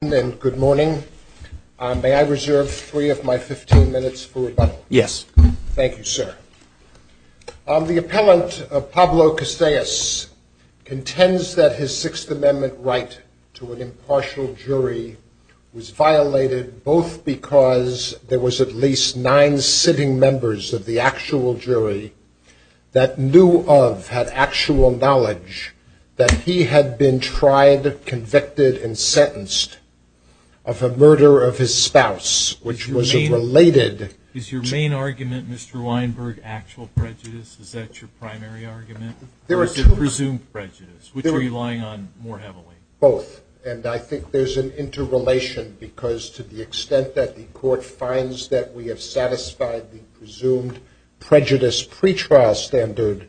Good morning. May I reserve three of my 15 minutes for rebuttal? Yes. Thank you, sir. The appellant, Pablo Casellas, contends that his Sixth Amendment right to an impartial jury was violated both because there was at least nine sitting members of the actual jury that knew of, had actual knowledge that he had been tried, convicted, and sentenced of a murder of his spouse, which was a related... Is your main argument, Mr. Weinberg, actual prejudice? Is that your primary argument? There are two. Or is it presumed prejudice? Which are you relying on more heavily? Both. And I think there's an interrelation because to the extent that the court finds that we have satisfied the presumed prejudice pretrial standard,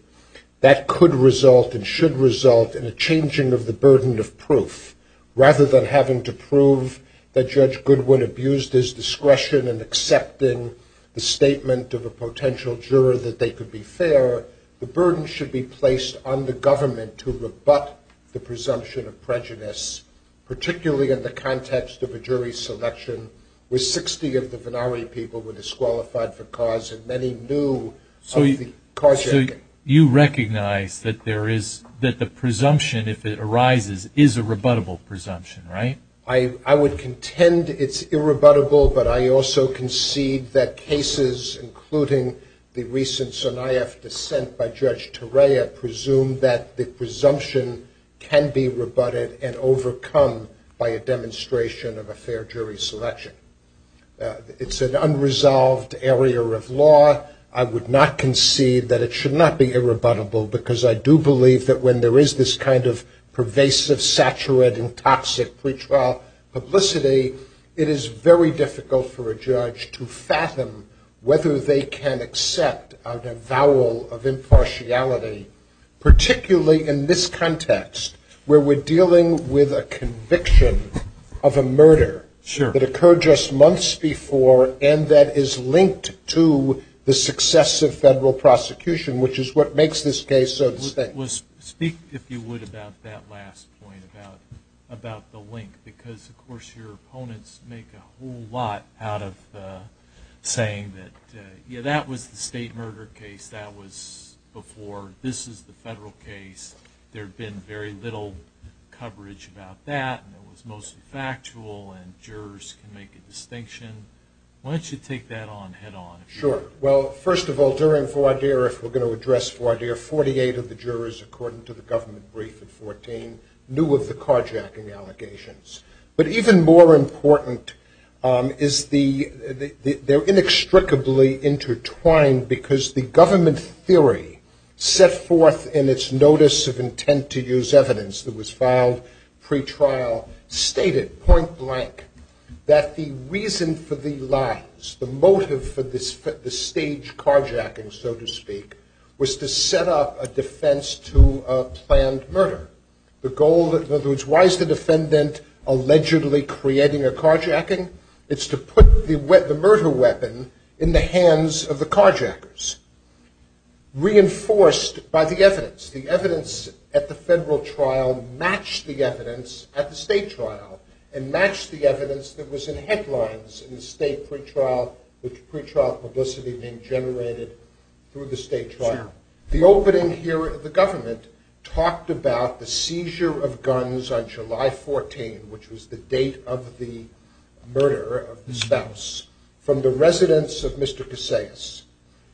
that could result and should result in a changing of the burden of proof. Rather than having to prove that Judge Goodwin abused his discretion in accepting the statement of a potential juror that they could be fair, the burden should be placed on the government to rebut the presumption of prejudice, particularly in the context of a jury selection where 60 of the Vennari people were disqualified for cause and many knew of the cause... So you recognize that the presumption, if it arises, is a rebuttable presumption, right? I would contend it's irrebuttable, but I also concede that cases, including the recent IAF dissent by Judge Torea, presumed that the presumption can be rebutted and overcome by a demonstration of a fair jury selection. It's an unresolved area of law. I would not concede that it should not be irrebuttable because I do believe that when there is this kind of pervasive, saturated, and toxic pretrial publicity, it is very difficult for a judge to fathom whether they can accept a vowel of impartiality, particularly in this context where we're dealing with a conviction of a murder that occurred just months before and that is linked to the success of federal prosecution, which is what makes this case so distinct. Speak, if you would, about that last point about the link because, of course, your opponents make a whole lot out of saying that, yeah, that was the state murder case, that was before, this is the federal case. There had been very little coverage about that and it was mostly factual and jurors can make a distinction. Why don't you take that on head on? Sure. Well, first of all, during Vardir, if we're going to address Vardir, 48 of the jurors, according to the government brief in 14, knew of the carjacking allegations. But even more important is they're inextricably intertwined because the government theory set forth in its notice of intent to use evidence that was filed pretrial stated, point blank, that the reason for the lies, the motive for the staged carjacking, so to speak, was to set up a defense to a planned murder. The goal, in other words, why is the defendant allegedly creating a carjacking? It's to put the murder weapon in the hands of the carjackers. Reinforced by the evidence. The evidence at the federal trial matched the evidence at the state trial and matched the evidence that was in headlines in the state pretrial with pretrial publicity being generated through the state trial. The opening here at the government talked about the seizure of guns on July 14, which was the date of the murder of the spouse, from the residence of Mr. Casais,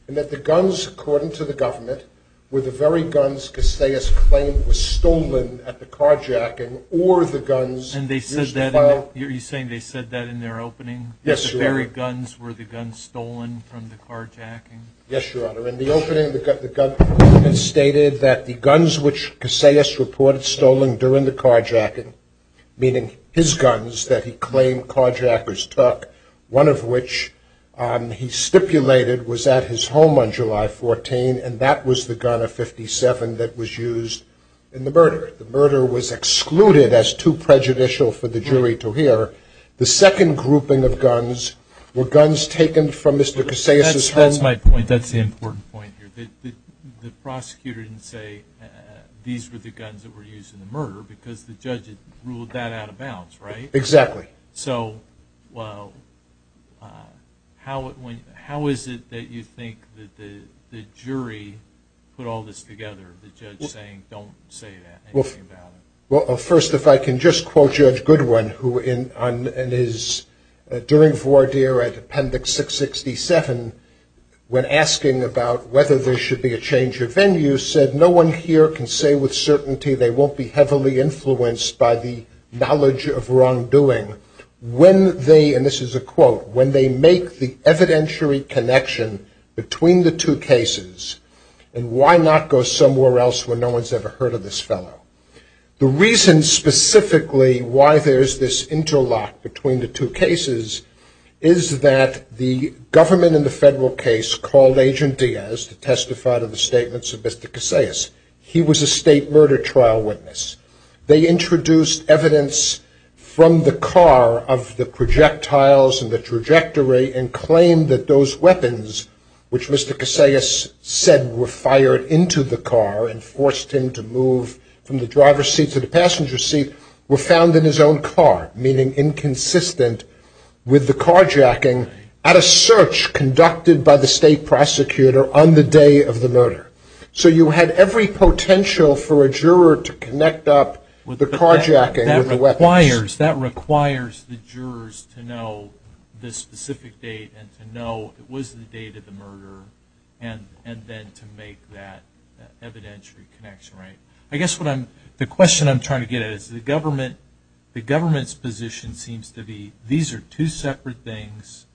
and that the guns, according to the government, were the very guns Casais claimed was stolen at the carjacking or the guns used to file... And they said that, are you saying they said that in their opening? Yes, sir. That the very guns were the guns stolen from the carjacking? Yes, Your Honor. In the opening, the government stated that the guns which Casais reported stolen during the carjacking, meaning his guns that he claimed carjackers took, one of which he stipulated was at his home on July 14, and that was the gun of 57 that was used in the murder. The murder was excluded as too prejudicial for the jury to hear. The second grouping of guns were guns taken from Mr. Casais' home... That's my point. That's the important point here. The prosecutor didn't say these were the guns that were used in the murder because the judge had ruled that out of bounds, right? Exactly. So, well, how is it that you think that the jury put all this together, the judge saying, don't say anything about it? Well, first, if I can just quote Judge Goodwin, who during voir dire at Appendix 667, when asking about whether there should be a change of venue, said, no one here can say with certainty they won't be heavily influenced by the knowledge of wrongdoing. When they, and this is a quote, when they make the evidentiary connection between the two cases, and why not go somewhere else where no one's ever heard of this fellow? The reason specifically why there's this interlock between the two cases is that the government in the federal case called Agent Diaz to testify to the statements of Mr. Casais. He was a state murder trial witness. They introduced evidence from the car of the projectiles and the trajectory and claimed that those weapons, which Mr. Casais said were fired into the car and forced him to move from the driver's seat to the passenger seat, were found in his own car, meaning inconsistent with the carjacking at a search conducted by the state prosecutor on the day of the murder. So you had every potential for a juror to connect up the carjacking with the weapons. That requires the jurors to know the specific date and to know it was the date of the murder and then to make that evidentiary connection, right? I guess the question I'm trying to get at is the government's position seems to be these are two separate things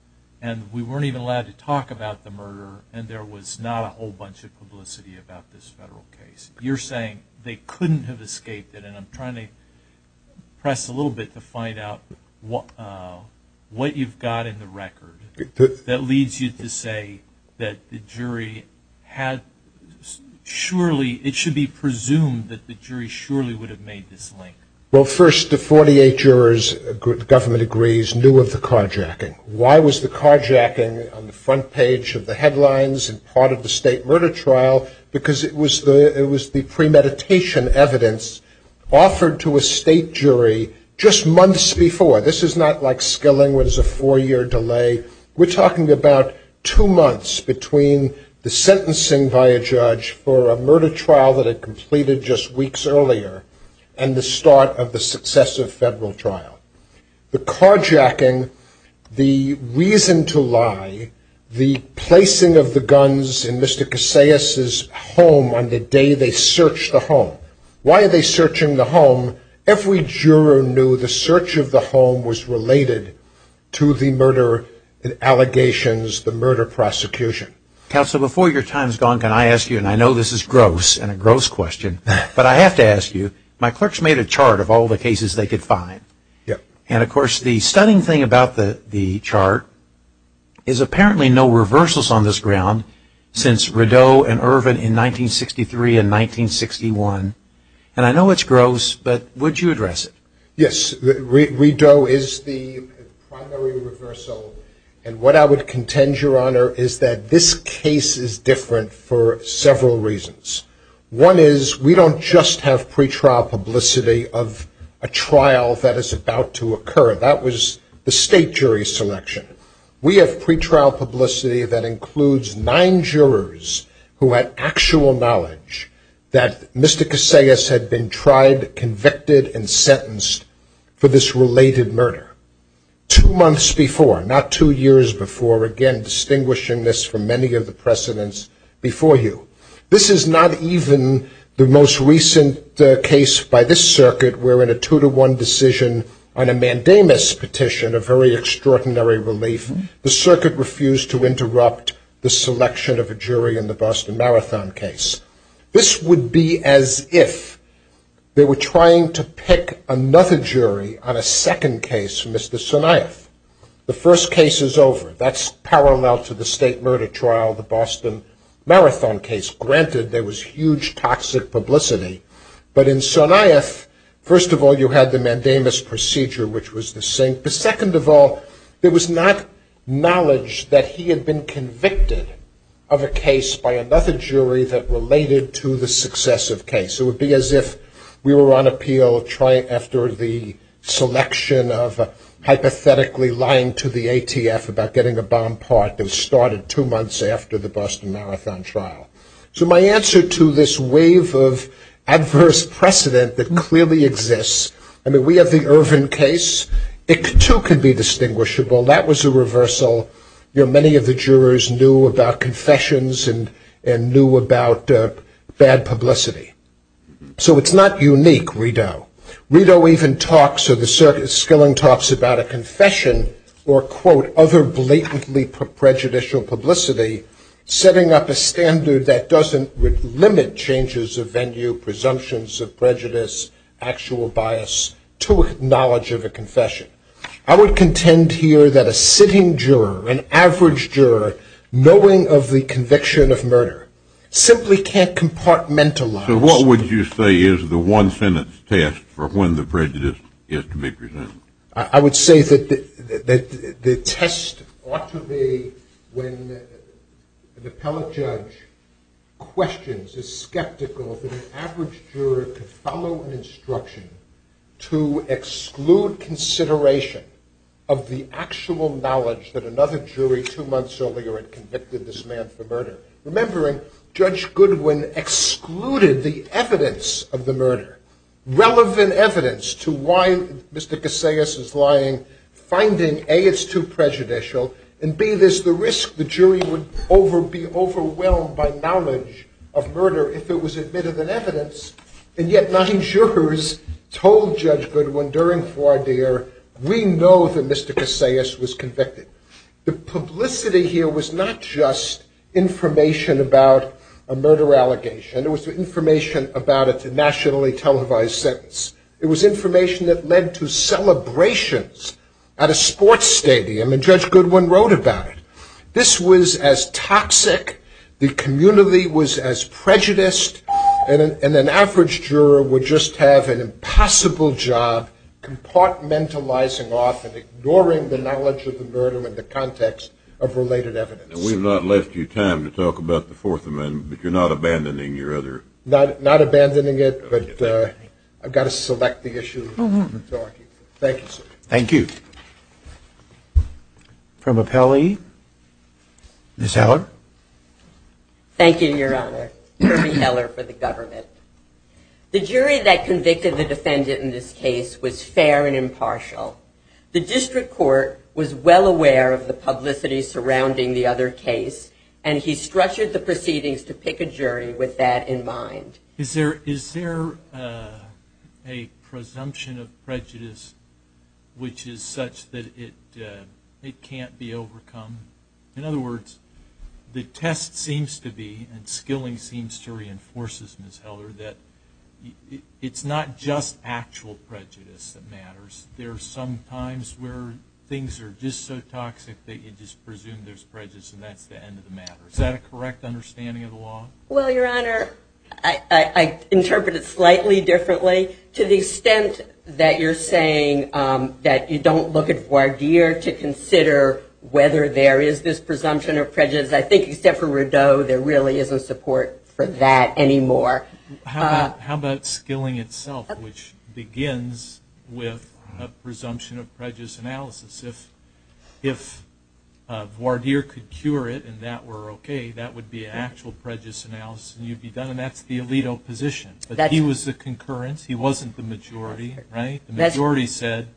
and we weren't even allowed to talk about the murder and there was not a whole bunch of publicity about this federal case. You're saying they couldn't have escaped it and I'm trying to press a little bit to find out what you've got in the record that leads you to say that the jury had surely, it should be presumed that the jury surely would have made this link. Well, first, the 48 jurors, the government agrees, knew of the carjacking. Why was the carjacking on the front page of the headlines and part of the state murder trial? Because it was the premeditation evidence offered to a state jury just months before. This is not like Skilling where there's a four-year delay. We're talking about two months between the sentencing by a judge for a murder trial that had completed just weeks earlier and the start of the successive federal trial. The carjacking, the reason to lie, the placing of the guns in Mr. Casais' home on the day they searched the home. Why are they searching the home? Every juror knew the search of the home was related to the murder allegations, the murder prosecution. Counsel, before your time's gone, can I ask you, and I know this is gross and a gross question, but I have to ask you, my clerks made a chart of all the cases they could find. And, of course, the stunning thing about the chart is apparently no reversals on this ground since Rideau and Irvin in 1963 and 1961. And I know it's gross, but would you address it? Yes. Rideau is the primary reversal. And what I would contend, Your Honor, is that this case is different for several reasons. One is we don't just have pretrial publicity of a trial that is about to occur. That was the state jury selection. We have pretrial publicity that includes nine jurors who had actual knowledge that Mr. Casais had been tried, convicted, and sentenced for this related murder two months before, not two years before. Again, distinguishing this from many of the precedents before you. This is not even the most recent case by this circuit where in a two-to-one decision on a Mandamus petition, a very extraordinary relief, the circuit refused to interrupt the selection of a jury in the Boston Marathon case. This would be as if they were trying to pick another jury on a second case for Mr. Sonaeth. The first case is over. That's parallel to the state murder trial, the Boston Marathon case. Granted, there was huge toxic publicity. But in Sonaeth, first of all, you had the Mandamus procedure, which was the same. But second of all, there was not knowledge that he had been convicted of a case by another jury that related to the successive case. It would be as if we were on appeal after the selection of hypothetically lying to the ATF about getting a bond part that was started two months after the Boston Marathon trial. So my answer to this wave of adverse precedent that clearly exists, I mean, we have the Ervin case. It, too, could be distinguishable. That was a reversal. Many of the jurors knew about confessions and knew about bad publicity. So it's not unique, Rideau. Rideau even talks, or the Skilling talks, about a confession or, quote, other blatantly prejudicial publicity, setting up a standard that doesn't limit changes of venue, presumptions of prejudice, actual bias to knowledge of a confession. I would contend here that a sitting juror, an average juror, knowing of the conviction of murder, simply can't compartmentalize. So what would you say is the one sentence test for when the prejudice is to be presented? I would say that the test ought to be when an appellate judge questions, is skeptical that an average juror could follow an instruction to exclude consideration of the actual knowledge that another jury two months earlier had convicted this man for murder. Remembering Judge Goodwin excluded the evidence of the murder, relevant evidence, to why Mr. Casillas is lying, finding, A, it's too prejudicial, and, B, it is the risk the jury would be overwhelmed by knowledge of murder if it was admitted in evidence. And yet nine jurors told Judge Goodwin during voir dire, we know that Mr. Casillas was convicted. The publicity here was not just information about a murder allegation. It was information about a nationally televised sentence. It was information that led to celebrations at a sports stadium, and Judge Goodwin wrote about it. This was as toxic, the community was as prejudiced, and an average juror would just have an impossible job compartmentalizing off and ignoring the knowledge of the murder in the context of related evidence. And we've not left you time to talk about the Fourth Amendment, but you're not abandoning your other... Not abandoning it, but I've got to select the issue. Thank you, sir. Thank you. From Appellee, Ms. Heller. Thank you, Your Honor. Kirby Heller for the government. The jury that convicted the defendant in this case was fair and impartial. The district court was well aware of the publicity surrounding the other case, and he structured the proceedings to pick a jury with that in mind. Is there a presumption of prejudice which is such that it can't be overcome? In other words, the test seems to be, and skilling seems to reinforce this, Ms. Heller, that it's not just actual prejudice that matters. There are some times where things are just so toxic that you just presume there's prejudice and that's the end of the matter. Is that a correct understanding of the law? Well, Your Honor, I interpret it slightly differently. To the extent that you're saying that you don't look at voir dire to consider whether there is this presumption of prejudice, I think, except for Rodeau, there really isn't support for that anymore. How about skilling itself, which begins with a presumption of prejudice analysis? If voir dire could cure it and that were okay, that would be an actual prejudice analysis and you'd be done, and that's the alito position. But he was the concurrence. He wasn't the majority. The majority said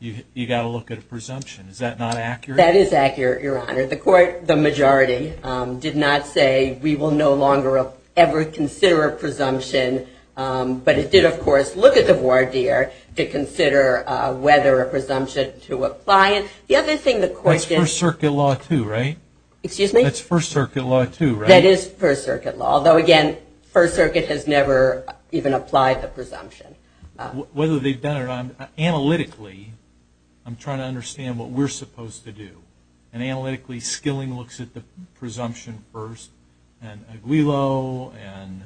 you've got to look at a presumption. Is that not accurate? That is accurate, Your Honor. The majority did not say we will no longer ever consider a presumption, but it did, of course, look at the voir dire to consider whether a presumption to apply it. The other thing the court did... That's First Circuit law, too, right? Excuse me? That's First Circuit law, too, right? That is First Circuit law, although, again, First Circuit has never even applied the presumption. Whether they've done it or not, analytically, I'm trying to understand what we're supposed to do, and analytically, Skilling looks at the presumption first, and Aguilo, and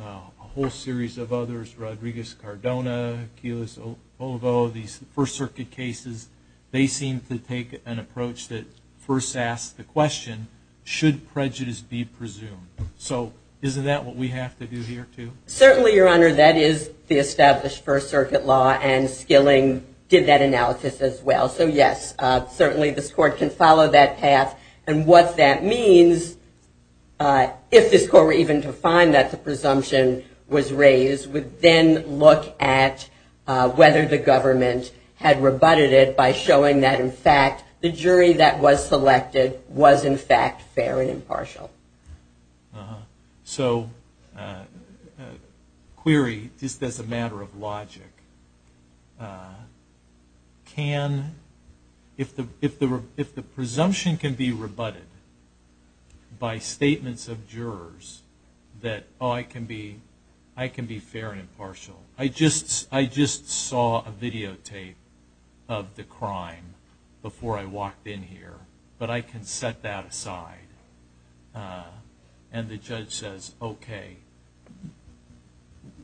a whole series of others, Rodriguez-Cardona, Keyless-Olivo, these First Circuit cases, they seem to take an approach that first asks the question, should prejudice be presumed? So isn't that what we have to do here, too? Certainly, Your Honor. That is the established First Circuit law, and Skilling did that analysis as well. So, yes, certainly this court can follow that path, and what that means, if this court were even to find that the presumption was raised, would then look at whether the government had rebutted it by showing that, in fact, the jury that was selected was, in fact, fair and impartial. So, query, just as a matter of logic, can, if the presumption can be rebutted by statements of jurors, that, oh, I can be fair and impartial, I just saw a videotape of the crime before I walked in here, but I can set that aside, and the judge says, okay,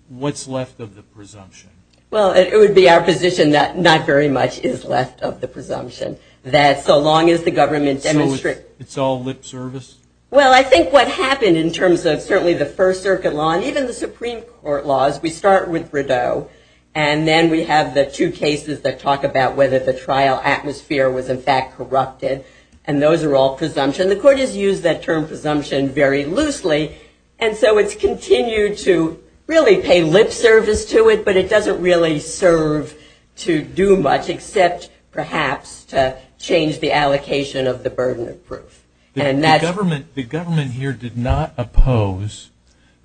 what's left of the presumption? Well, it would be our position that not very much is left of the presumption, that so long as the government demonstrates. So it's all lip service? Well, I think what happened in terms of certainly the First Circuit law, and then we have the two cases that talk about whether the trial atmosphere was, in fact, corrupted, and those are all presumption. The court has used that term presumption very loosely, and so it's continued to really pay lip service to it, but it doesn't really serve to do much except, perhaps, to change the allocation of the burden of proof. The government here did not oppose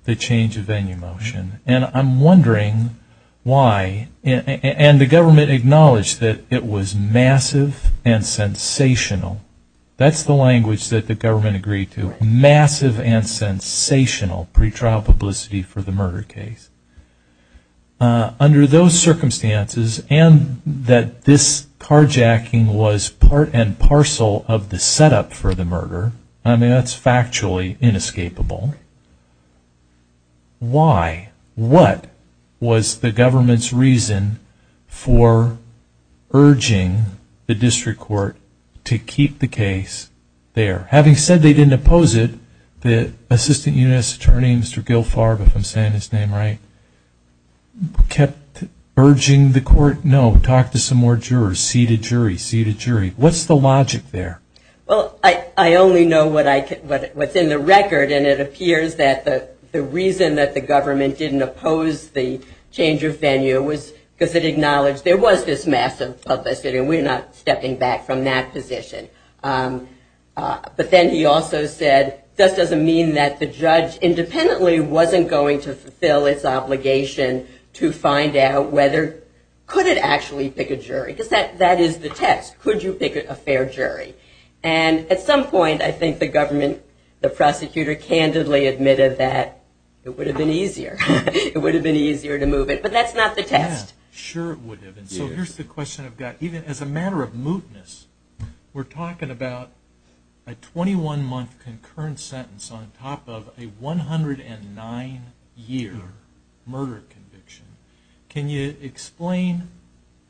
the change of venue motion, and I'm wondering why, and the government acknowledged that it was massive and sensational. That's the language that the government agreed to, massive and sensational pretrial publicity for the murder case. Under those circumstances, and that this carjacking was part and parcel of the setup for the murder, I mean, that's factually inescapable. Why? What was the government's reason for urging the district court to keep the case there? Having said they didn't oppose it, the Assistant U.S. Attorney, Mr. Gil Farb, if I'm saying his name right, kept urging the court, no, talk to some more jurors, seated jury, seated jury. What's the logic there? Well, I only know what's in the record, and it appears that the reason that the government didn't oppose the change of venue was because it acknowledged there was this massive publicity, and we're not stepping back from that position. But then he also said, this doesn't mean that the judge independently wasn't going to fulfill its obligation to find out whether, could it actually pick a jury? Because that is the test, could you pick a fair jury? And at some point, I think the government, the prosecutor, candidly admitted that it would have been easier. It would have been easier to move it, but that's not the test. Sure it would have, and so here's the question I've got. Even as a matter of mootness, we're talking about a 21-month concurrent sentence on top of a 109-year murder conviction. Can you explain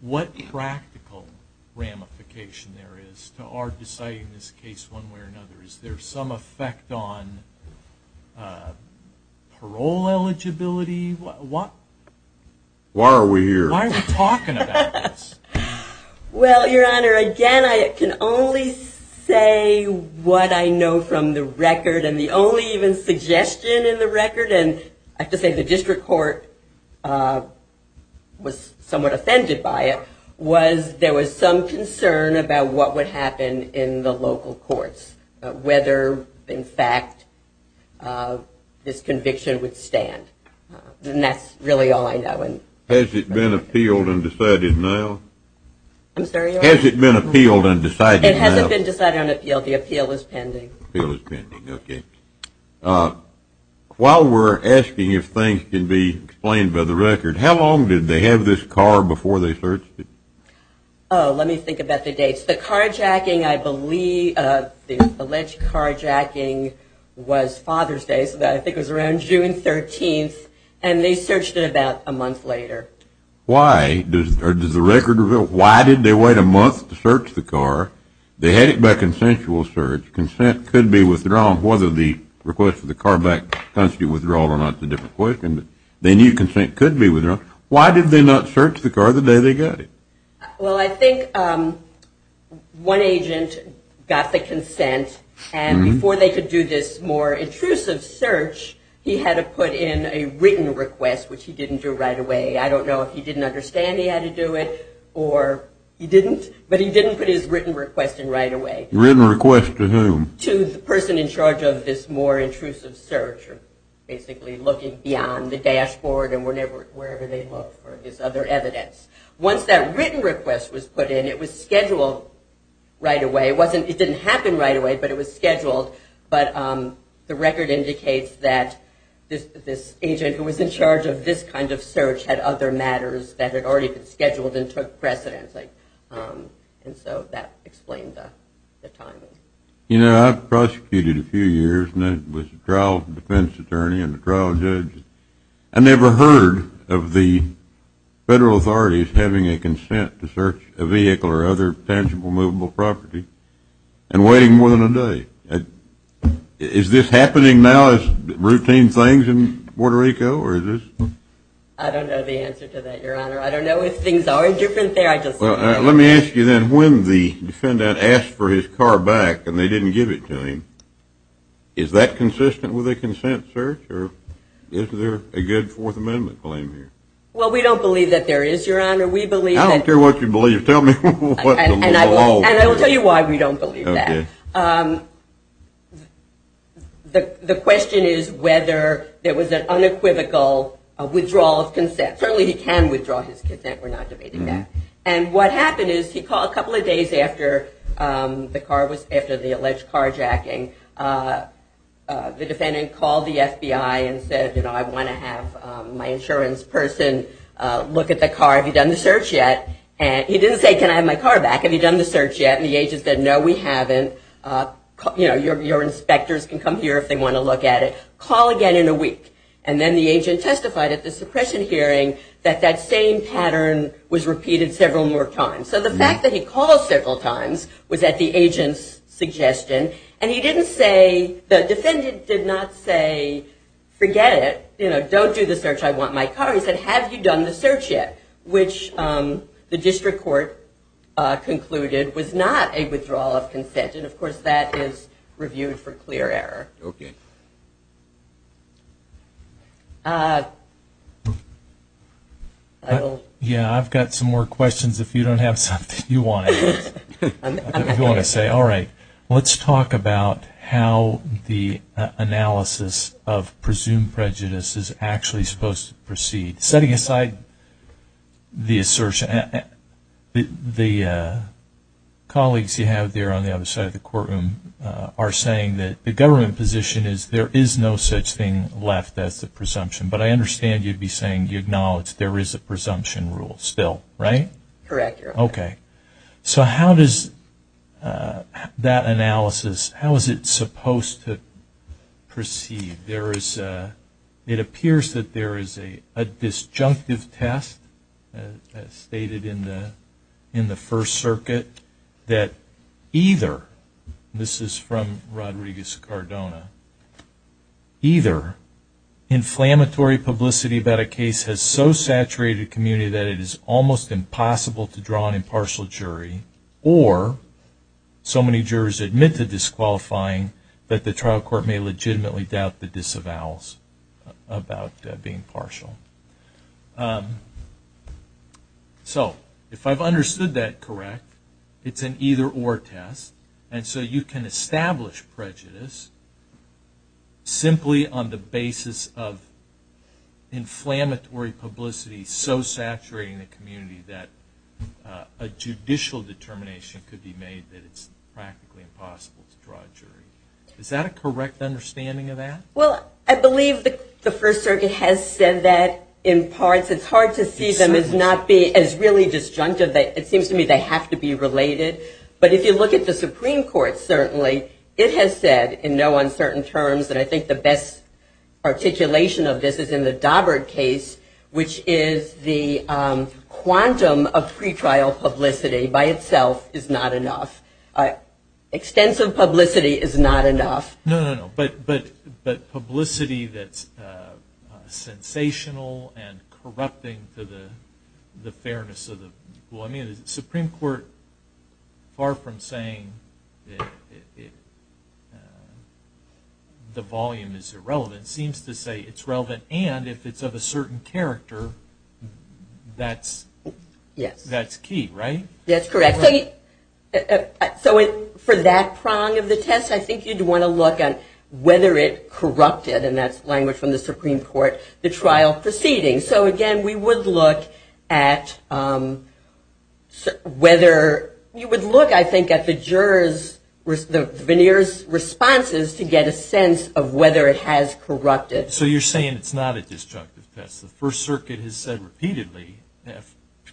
what practical ramification there is to our deciding this case one way or another? Is there some effect on parole eligibility? Why are we here? Why are we talking about this? Well, Your Honor, again, I can only say what I know from the record, and the only even suggestion in the record, and I have to say the district court was somewhat offended by it, was there was some concern about what would happen in the local courts, whether, in fact, this conviction would stand. And that's really all I know. Has it been appealed and decided now? I'm sorry, Your Honor? Has it been appealed and decided now? It hasn't been decided on appeal. The appeal is pending. The appeal is pending, okay. While we're asking if things can be explained by the record, how long did they have this car before they searched it? Oh, let me think about the dates. The carjacking, I believe, the alleged carjacking was Father's Day, so I think it was around June 13th, and they searched it about a month later. Why? Does the record reveal why did they wait a month to search the car? They had it by consensual search. Consent could be withdrawn, whether the request for the car back comes to withdrawal or not is a different question. They knew consent could be withdrawn. Why did they not search the car the day they got it? Well, I think one agent got the consent, and before they could do this more intrusive search, he had to put in a written request, which he didn't do right away. I don't know if he didn't understand he had to do it or he didn't, but he didn't put his written request in right away. Written request to whom? To the person in charge of this more intrusive search, basically looking beyond the dashboard and wherever they looked for his other evidence. Once that written request was put in, it was scheduled right away. It didn't happen right away, but it was scheduled, but the record indicates that this agent who was in charge of this kind of search had other matters that had already been scheduled and took precedence, and so that explained the timing. You know, I've prosecuted a few years and was a trial defense attorney and a trial judge. I never heard of the federal authorities having a consent to search a vehicle or other tangible movable property and waiting more than a day. Is this happening now as routine things in Puerto Rico, or is this? I don't know the answer to that, Your Honor. I don't know if things are different there. Let me ask you then, when the defendant asked for his car back and they didn't give it to him, is that consistent with a consent search, or is there a good Fourth Amendment claim here? Well, we don't believe that there is, Your Honor. I don't care what you believe. Tell me what the law is. And I will tell you why we don't believe that. The question is whether there was an unequivocal withdrawal of consent. Certainly he can withdraw his consent. We're not debating that. And what happened is he called a couple of days after the alleged carjacking. The defendant called the FBI and said, you know, I want to have my insurance person look at the car. Have you done the search yet? He didn't say, can I have my car back? Have you done the search yet? And the agent said, no, we haven't. You know, your inspectors can come here if they want to look at it. Call again in a week. And then the agent testified at the suppression hearing that that same pattern was repeated several more times. So the fact that he called several times was at the agent's suggestion. And he didn't say, the defendant did not say, forget it. You know, don't do the search. I want my car. He said, have you done the search yet? Which the district court concluded was not a withdrawal of consent. And, of course, that is reviewed for clear error. All right, okay. Yeah, I've got some more questions if you don't have something you want to ask. If you want to say, all right, let's talk about how the analysis of presumed prejudice is actually supposed to proceed. Setting aside the assertion, the colleagues you have there on the other side of the courtroom are saying that the government position is there is no such thing left as the presumption. But I understand you'd be saying you acknowledge there is a presumption rule still, right? Correct. Okay. So how does that analysis, how is it supposed to proceed? It appears that there is a disjunctive test stated in the First Circuit that either, and this is from Rodriguez Cardona, either inflammatory publicity about a case has so saturated a community that it is almost impossible to draw an impartial jury, or so many jurors admit to disqualifying that the trial court may legitimately doubt the disavowals about being partial. So if I've understood that correct, it's an either or test, and so you can establish prejudice simply on the basis of inflammatory publicity so saturating the community that a judicial determination could be made that it's practically impossible to draw a jury. Is that a correct understanding of that? Well, I believe the First Circuit has said that in parts. It's hard to see them as really disjunctive. It seems to me they have to be related. But if you look at the Supreme Court, certainly it has said in no uncertain terms, and I think the best articulation of this is in the Daubert case, which is the quantum of pretrial publicity by itself is not enough. Extensive publicity is not enough. No, no, no. But publicity that's sensational and corrupting to the fairness of the people. I mean, the Supreme Court, far from saying the volume is irrelevant, seems to say it's relevant, and if it's of a certain character, that's key, right? That's correct. So for that prong of the test, I think you'd want to look at whether it corrupted, and that's language from the Supreme Court, the trial proceeding. So, again, we would look at whether you would look, I think, at the jurors' responses to get a sense of whether it has corrupted. So you're saying it's not a disjunctive test. The First Circuit has said repeatedly,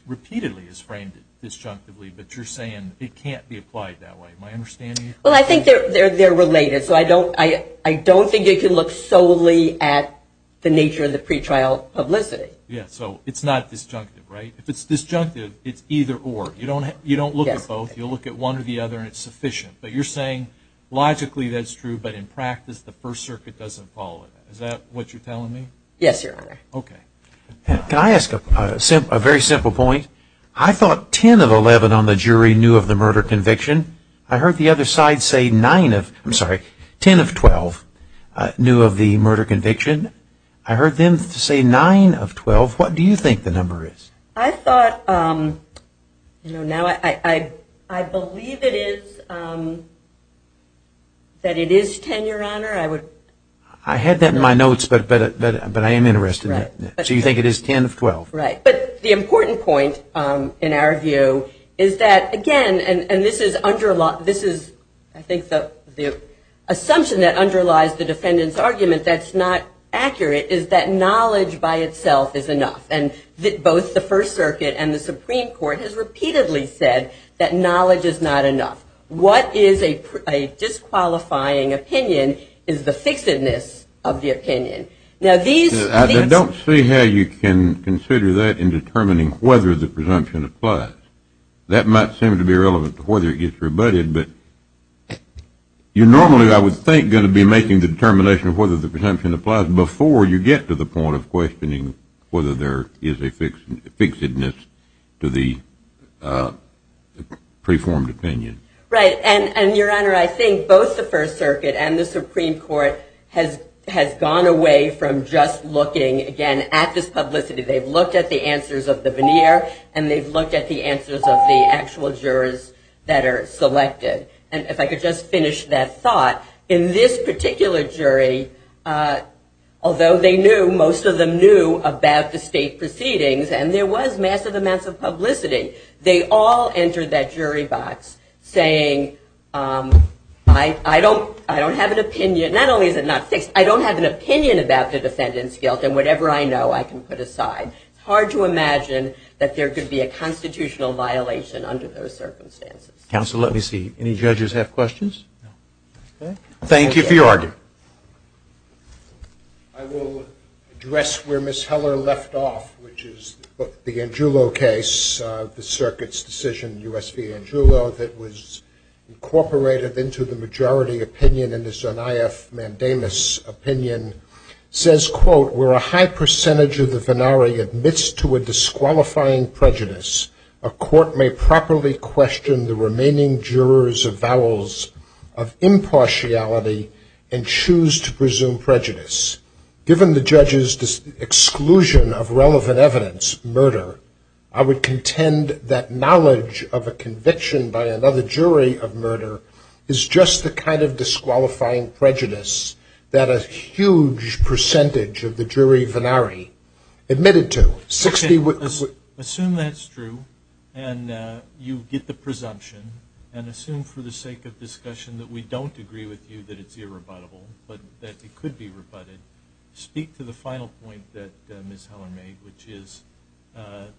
repeatedly has framed it disjunctively, but you're saying it can't be applied that way. Am I understanding you? Well, I think they're related, so I don't think you can look solely at the nature of the pretrial publicity. Yeah, so it's not disjunctive, right? If it's disjunctive, it's either or. You don't look at both. You'll look at one or the other, and it's sufficient. But you're saying logically that's true, but in practice the First Circuit doesn't follow that. Is that what you're telling me? Yes, Your Honor. Okay. Can I ask a very simple point? I thought 10 of 11 on the jury knew of the murder conviction. I heard the other side say 10 of 12 knew of the murder conviction. I heard them say 9 of 12. What do you think the number is? I believe it is 10, Your Honor. I had that in my notes, but I am interested. So you think it is 10 of 12? Right. But the important point in our view is that, again, and this is I think the assumption that underlies the defendant's argument that's not accurate is that knowledge by itself is enough, and both the First Circuit and the Supreme Court has repeatedly said that knowledge is not enough. What is a disqualifying opinion is the fixedness of the opinion. I don't see how you can consider that in determining whether the presumption applies. That might seem to be irrelevant to whether it gets rebutted, but you're normally I would think going to be making the determination of whether the presumption applies before you get to the point of questioning whether there is a fixedness to the preformed opinion. Right. And, Your Honor, I think both the First Circuit and the Supreme Court has gone away from just looking, again, at this publicity. They've looked at the answers of the veneer, and they've looked at the answers of the actual jurors that are selected. And if I could just finish that thought. In this particular jury, although they knew, most of them knew about the state proceedings, and there was massive amounts of publicity, they all entered that jury box saying, I don't have an opinion. Not only is it not fixed, I don't have an opinion about the defendant's guilt, and whatever I know I can put aside. It's hard to imagine that there could be a constitutional violation under those circumstances. Counsel, let me see. Any judges have questions? No. Okay. Thank you for your argument. I will address where Ms. Heller left off, which is the Angiulo case, the Circuit's decision, U.S. v. Angiulo, that was incorporated into the majority opinion in the Zaniyaf-Mandamus opinion, says, quote, where a high percentage of the venari admits to a disqualifying prejudice, a court may properly question the remaining jurors of vowels of impartiality and choose to presume prejudice. Given the judge's exclusion of relevant evidence, murder, I would contend that knowledge of a conviction by another jury of murder is just the kind of disqualifying prejudice that a huge percentage of the jury venari admitted to. Okay. Assume that's true, and you get the presumption, and assume for the sake of discussion that we don't agree with you that it's speak to the final point that Ms. Heller made, which is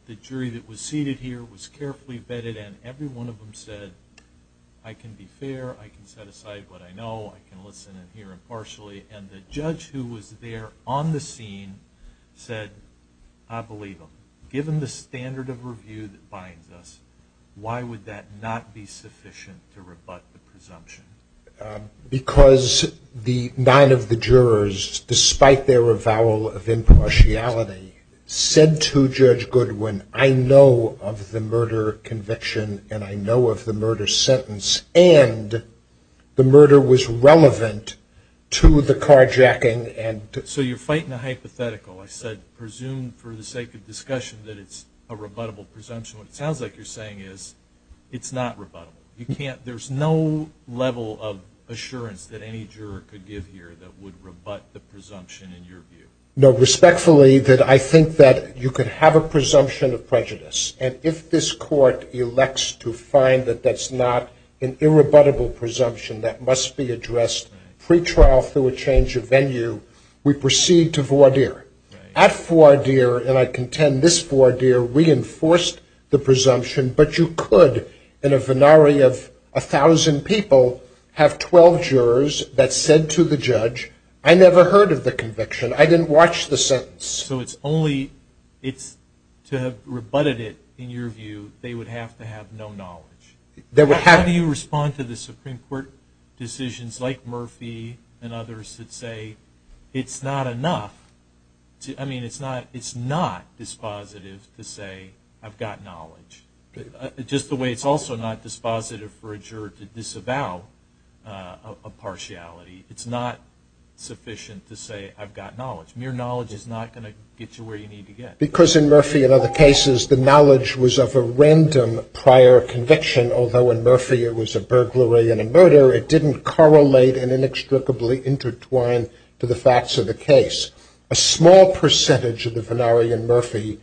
the jury that was seated here was carefully vetted, and every one of them said, I can be fair, I can set aside what I know, I can listen and hear impartially, and the judge who was there on the scene said, I believe him. Given the standard of review that binds us, why would that not be sufficient to rebut the presumption? Because the nine of the jurors, despite their avowal of impartiality, said to Judge Goodwin, I know of the murder conviction, and I know of the murder sentence, and the murder was relevant to the carjacking. So you're fighting a hypothetical. I said presume for the sake of discussion that it's a rebuttable presumption. What it sounds like you're saying is it's not rebuttable. There's no level of assurance that any juror could give here that would rebut the presumption in your view. No, respectfully, I think that you could have a presumption of prejudice, and if this court elects to find that that's not an irrebuttable presumption that must be addressed pre-trial through a change of venue, we proceed to voir dire. At voir dire, and I contend this voir dire reinforced the presumption, but you could in a venari of 1,000 people have 12 jurors that said to the judge, I never heard of the conviction. I didn't watch the sentence. So it's only to have rebutted it, in your view, they would have to have no knowledge. How do you respond to the Supreme Court decisions like Murphy and others that say it's not enough? I mean, it's not dispositive to say I've got knowledge. Just the way it's also not dispositive for a juror to disavow a partiality, it's not sufficient to say I've got knowledge. Mere knowledge is not going to get you where you need to get. Because in Murphy and other cases, the knowledge was of a random prior conviction, although in Murphy it was a burglary and a murder, it didn't correlate and inextricably intertwine to the facts of the case. A small percentage of the venari in Murphy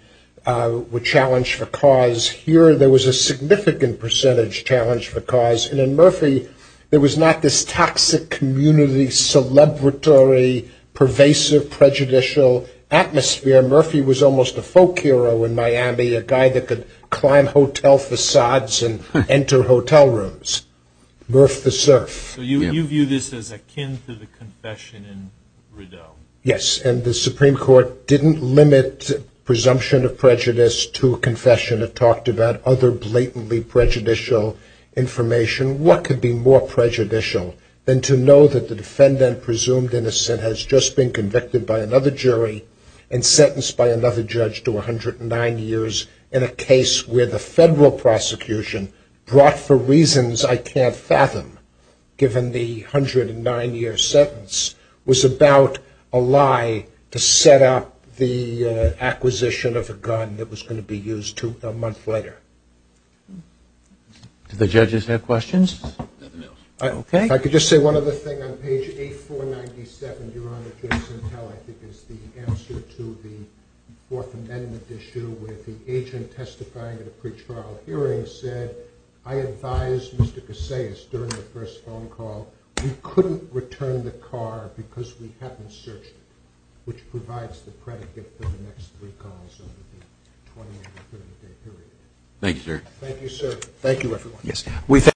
were challenged for cause. Here there was a significant percentage challenged for cause. And in Murphy, there was not this toxic community, celebratory, pervasive, prejudicial atmosphere. Murphy was almost a folk hero in Miami, a guy that could climb hotel facades and enter hotel rooms. So you view this as akin to the confession in Rideau? Yes, and the Supreme Court didn't limit presumption of prejudice to a confession. It talked about other blatantly prejudicial information. What could be more prejudicial than to know that the defendant presumed innocent has just been convicted by another jury and sentenced by another judge to 109 years in a case where the federal prosecution brought for reasons I can't fathom, given the 109-year sentence, was about a lie to set up the acquisition of a gun that was going to be used a month later? Do the judges have questions? Nothing else. Okay. If I could just say one other thing on page 8497, Your Honor, I think it's the answer to the Fourth Amendment issue where the agent testifying in a pretrial hearing said, I advised Mr. Casais during the first phone call, we couldn't return the car because we haven't searched it, which provides the predicate for the next three calls under the 20-day period. Thank you, sir. Thank you, sir. Thank you, everyone.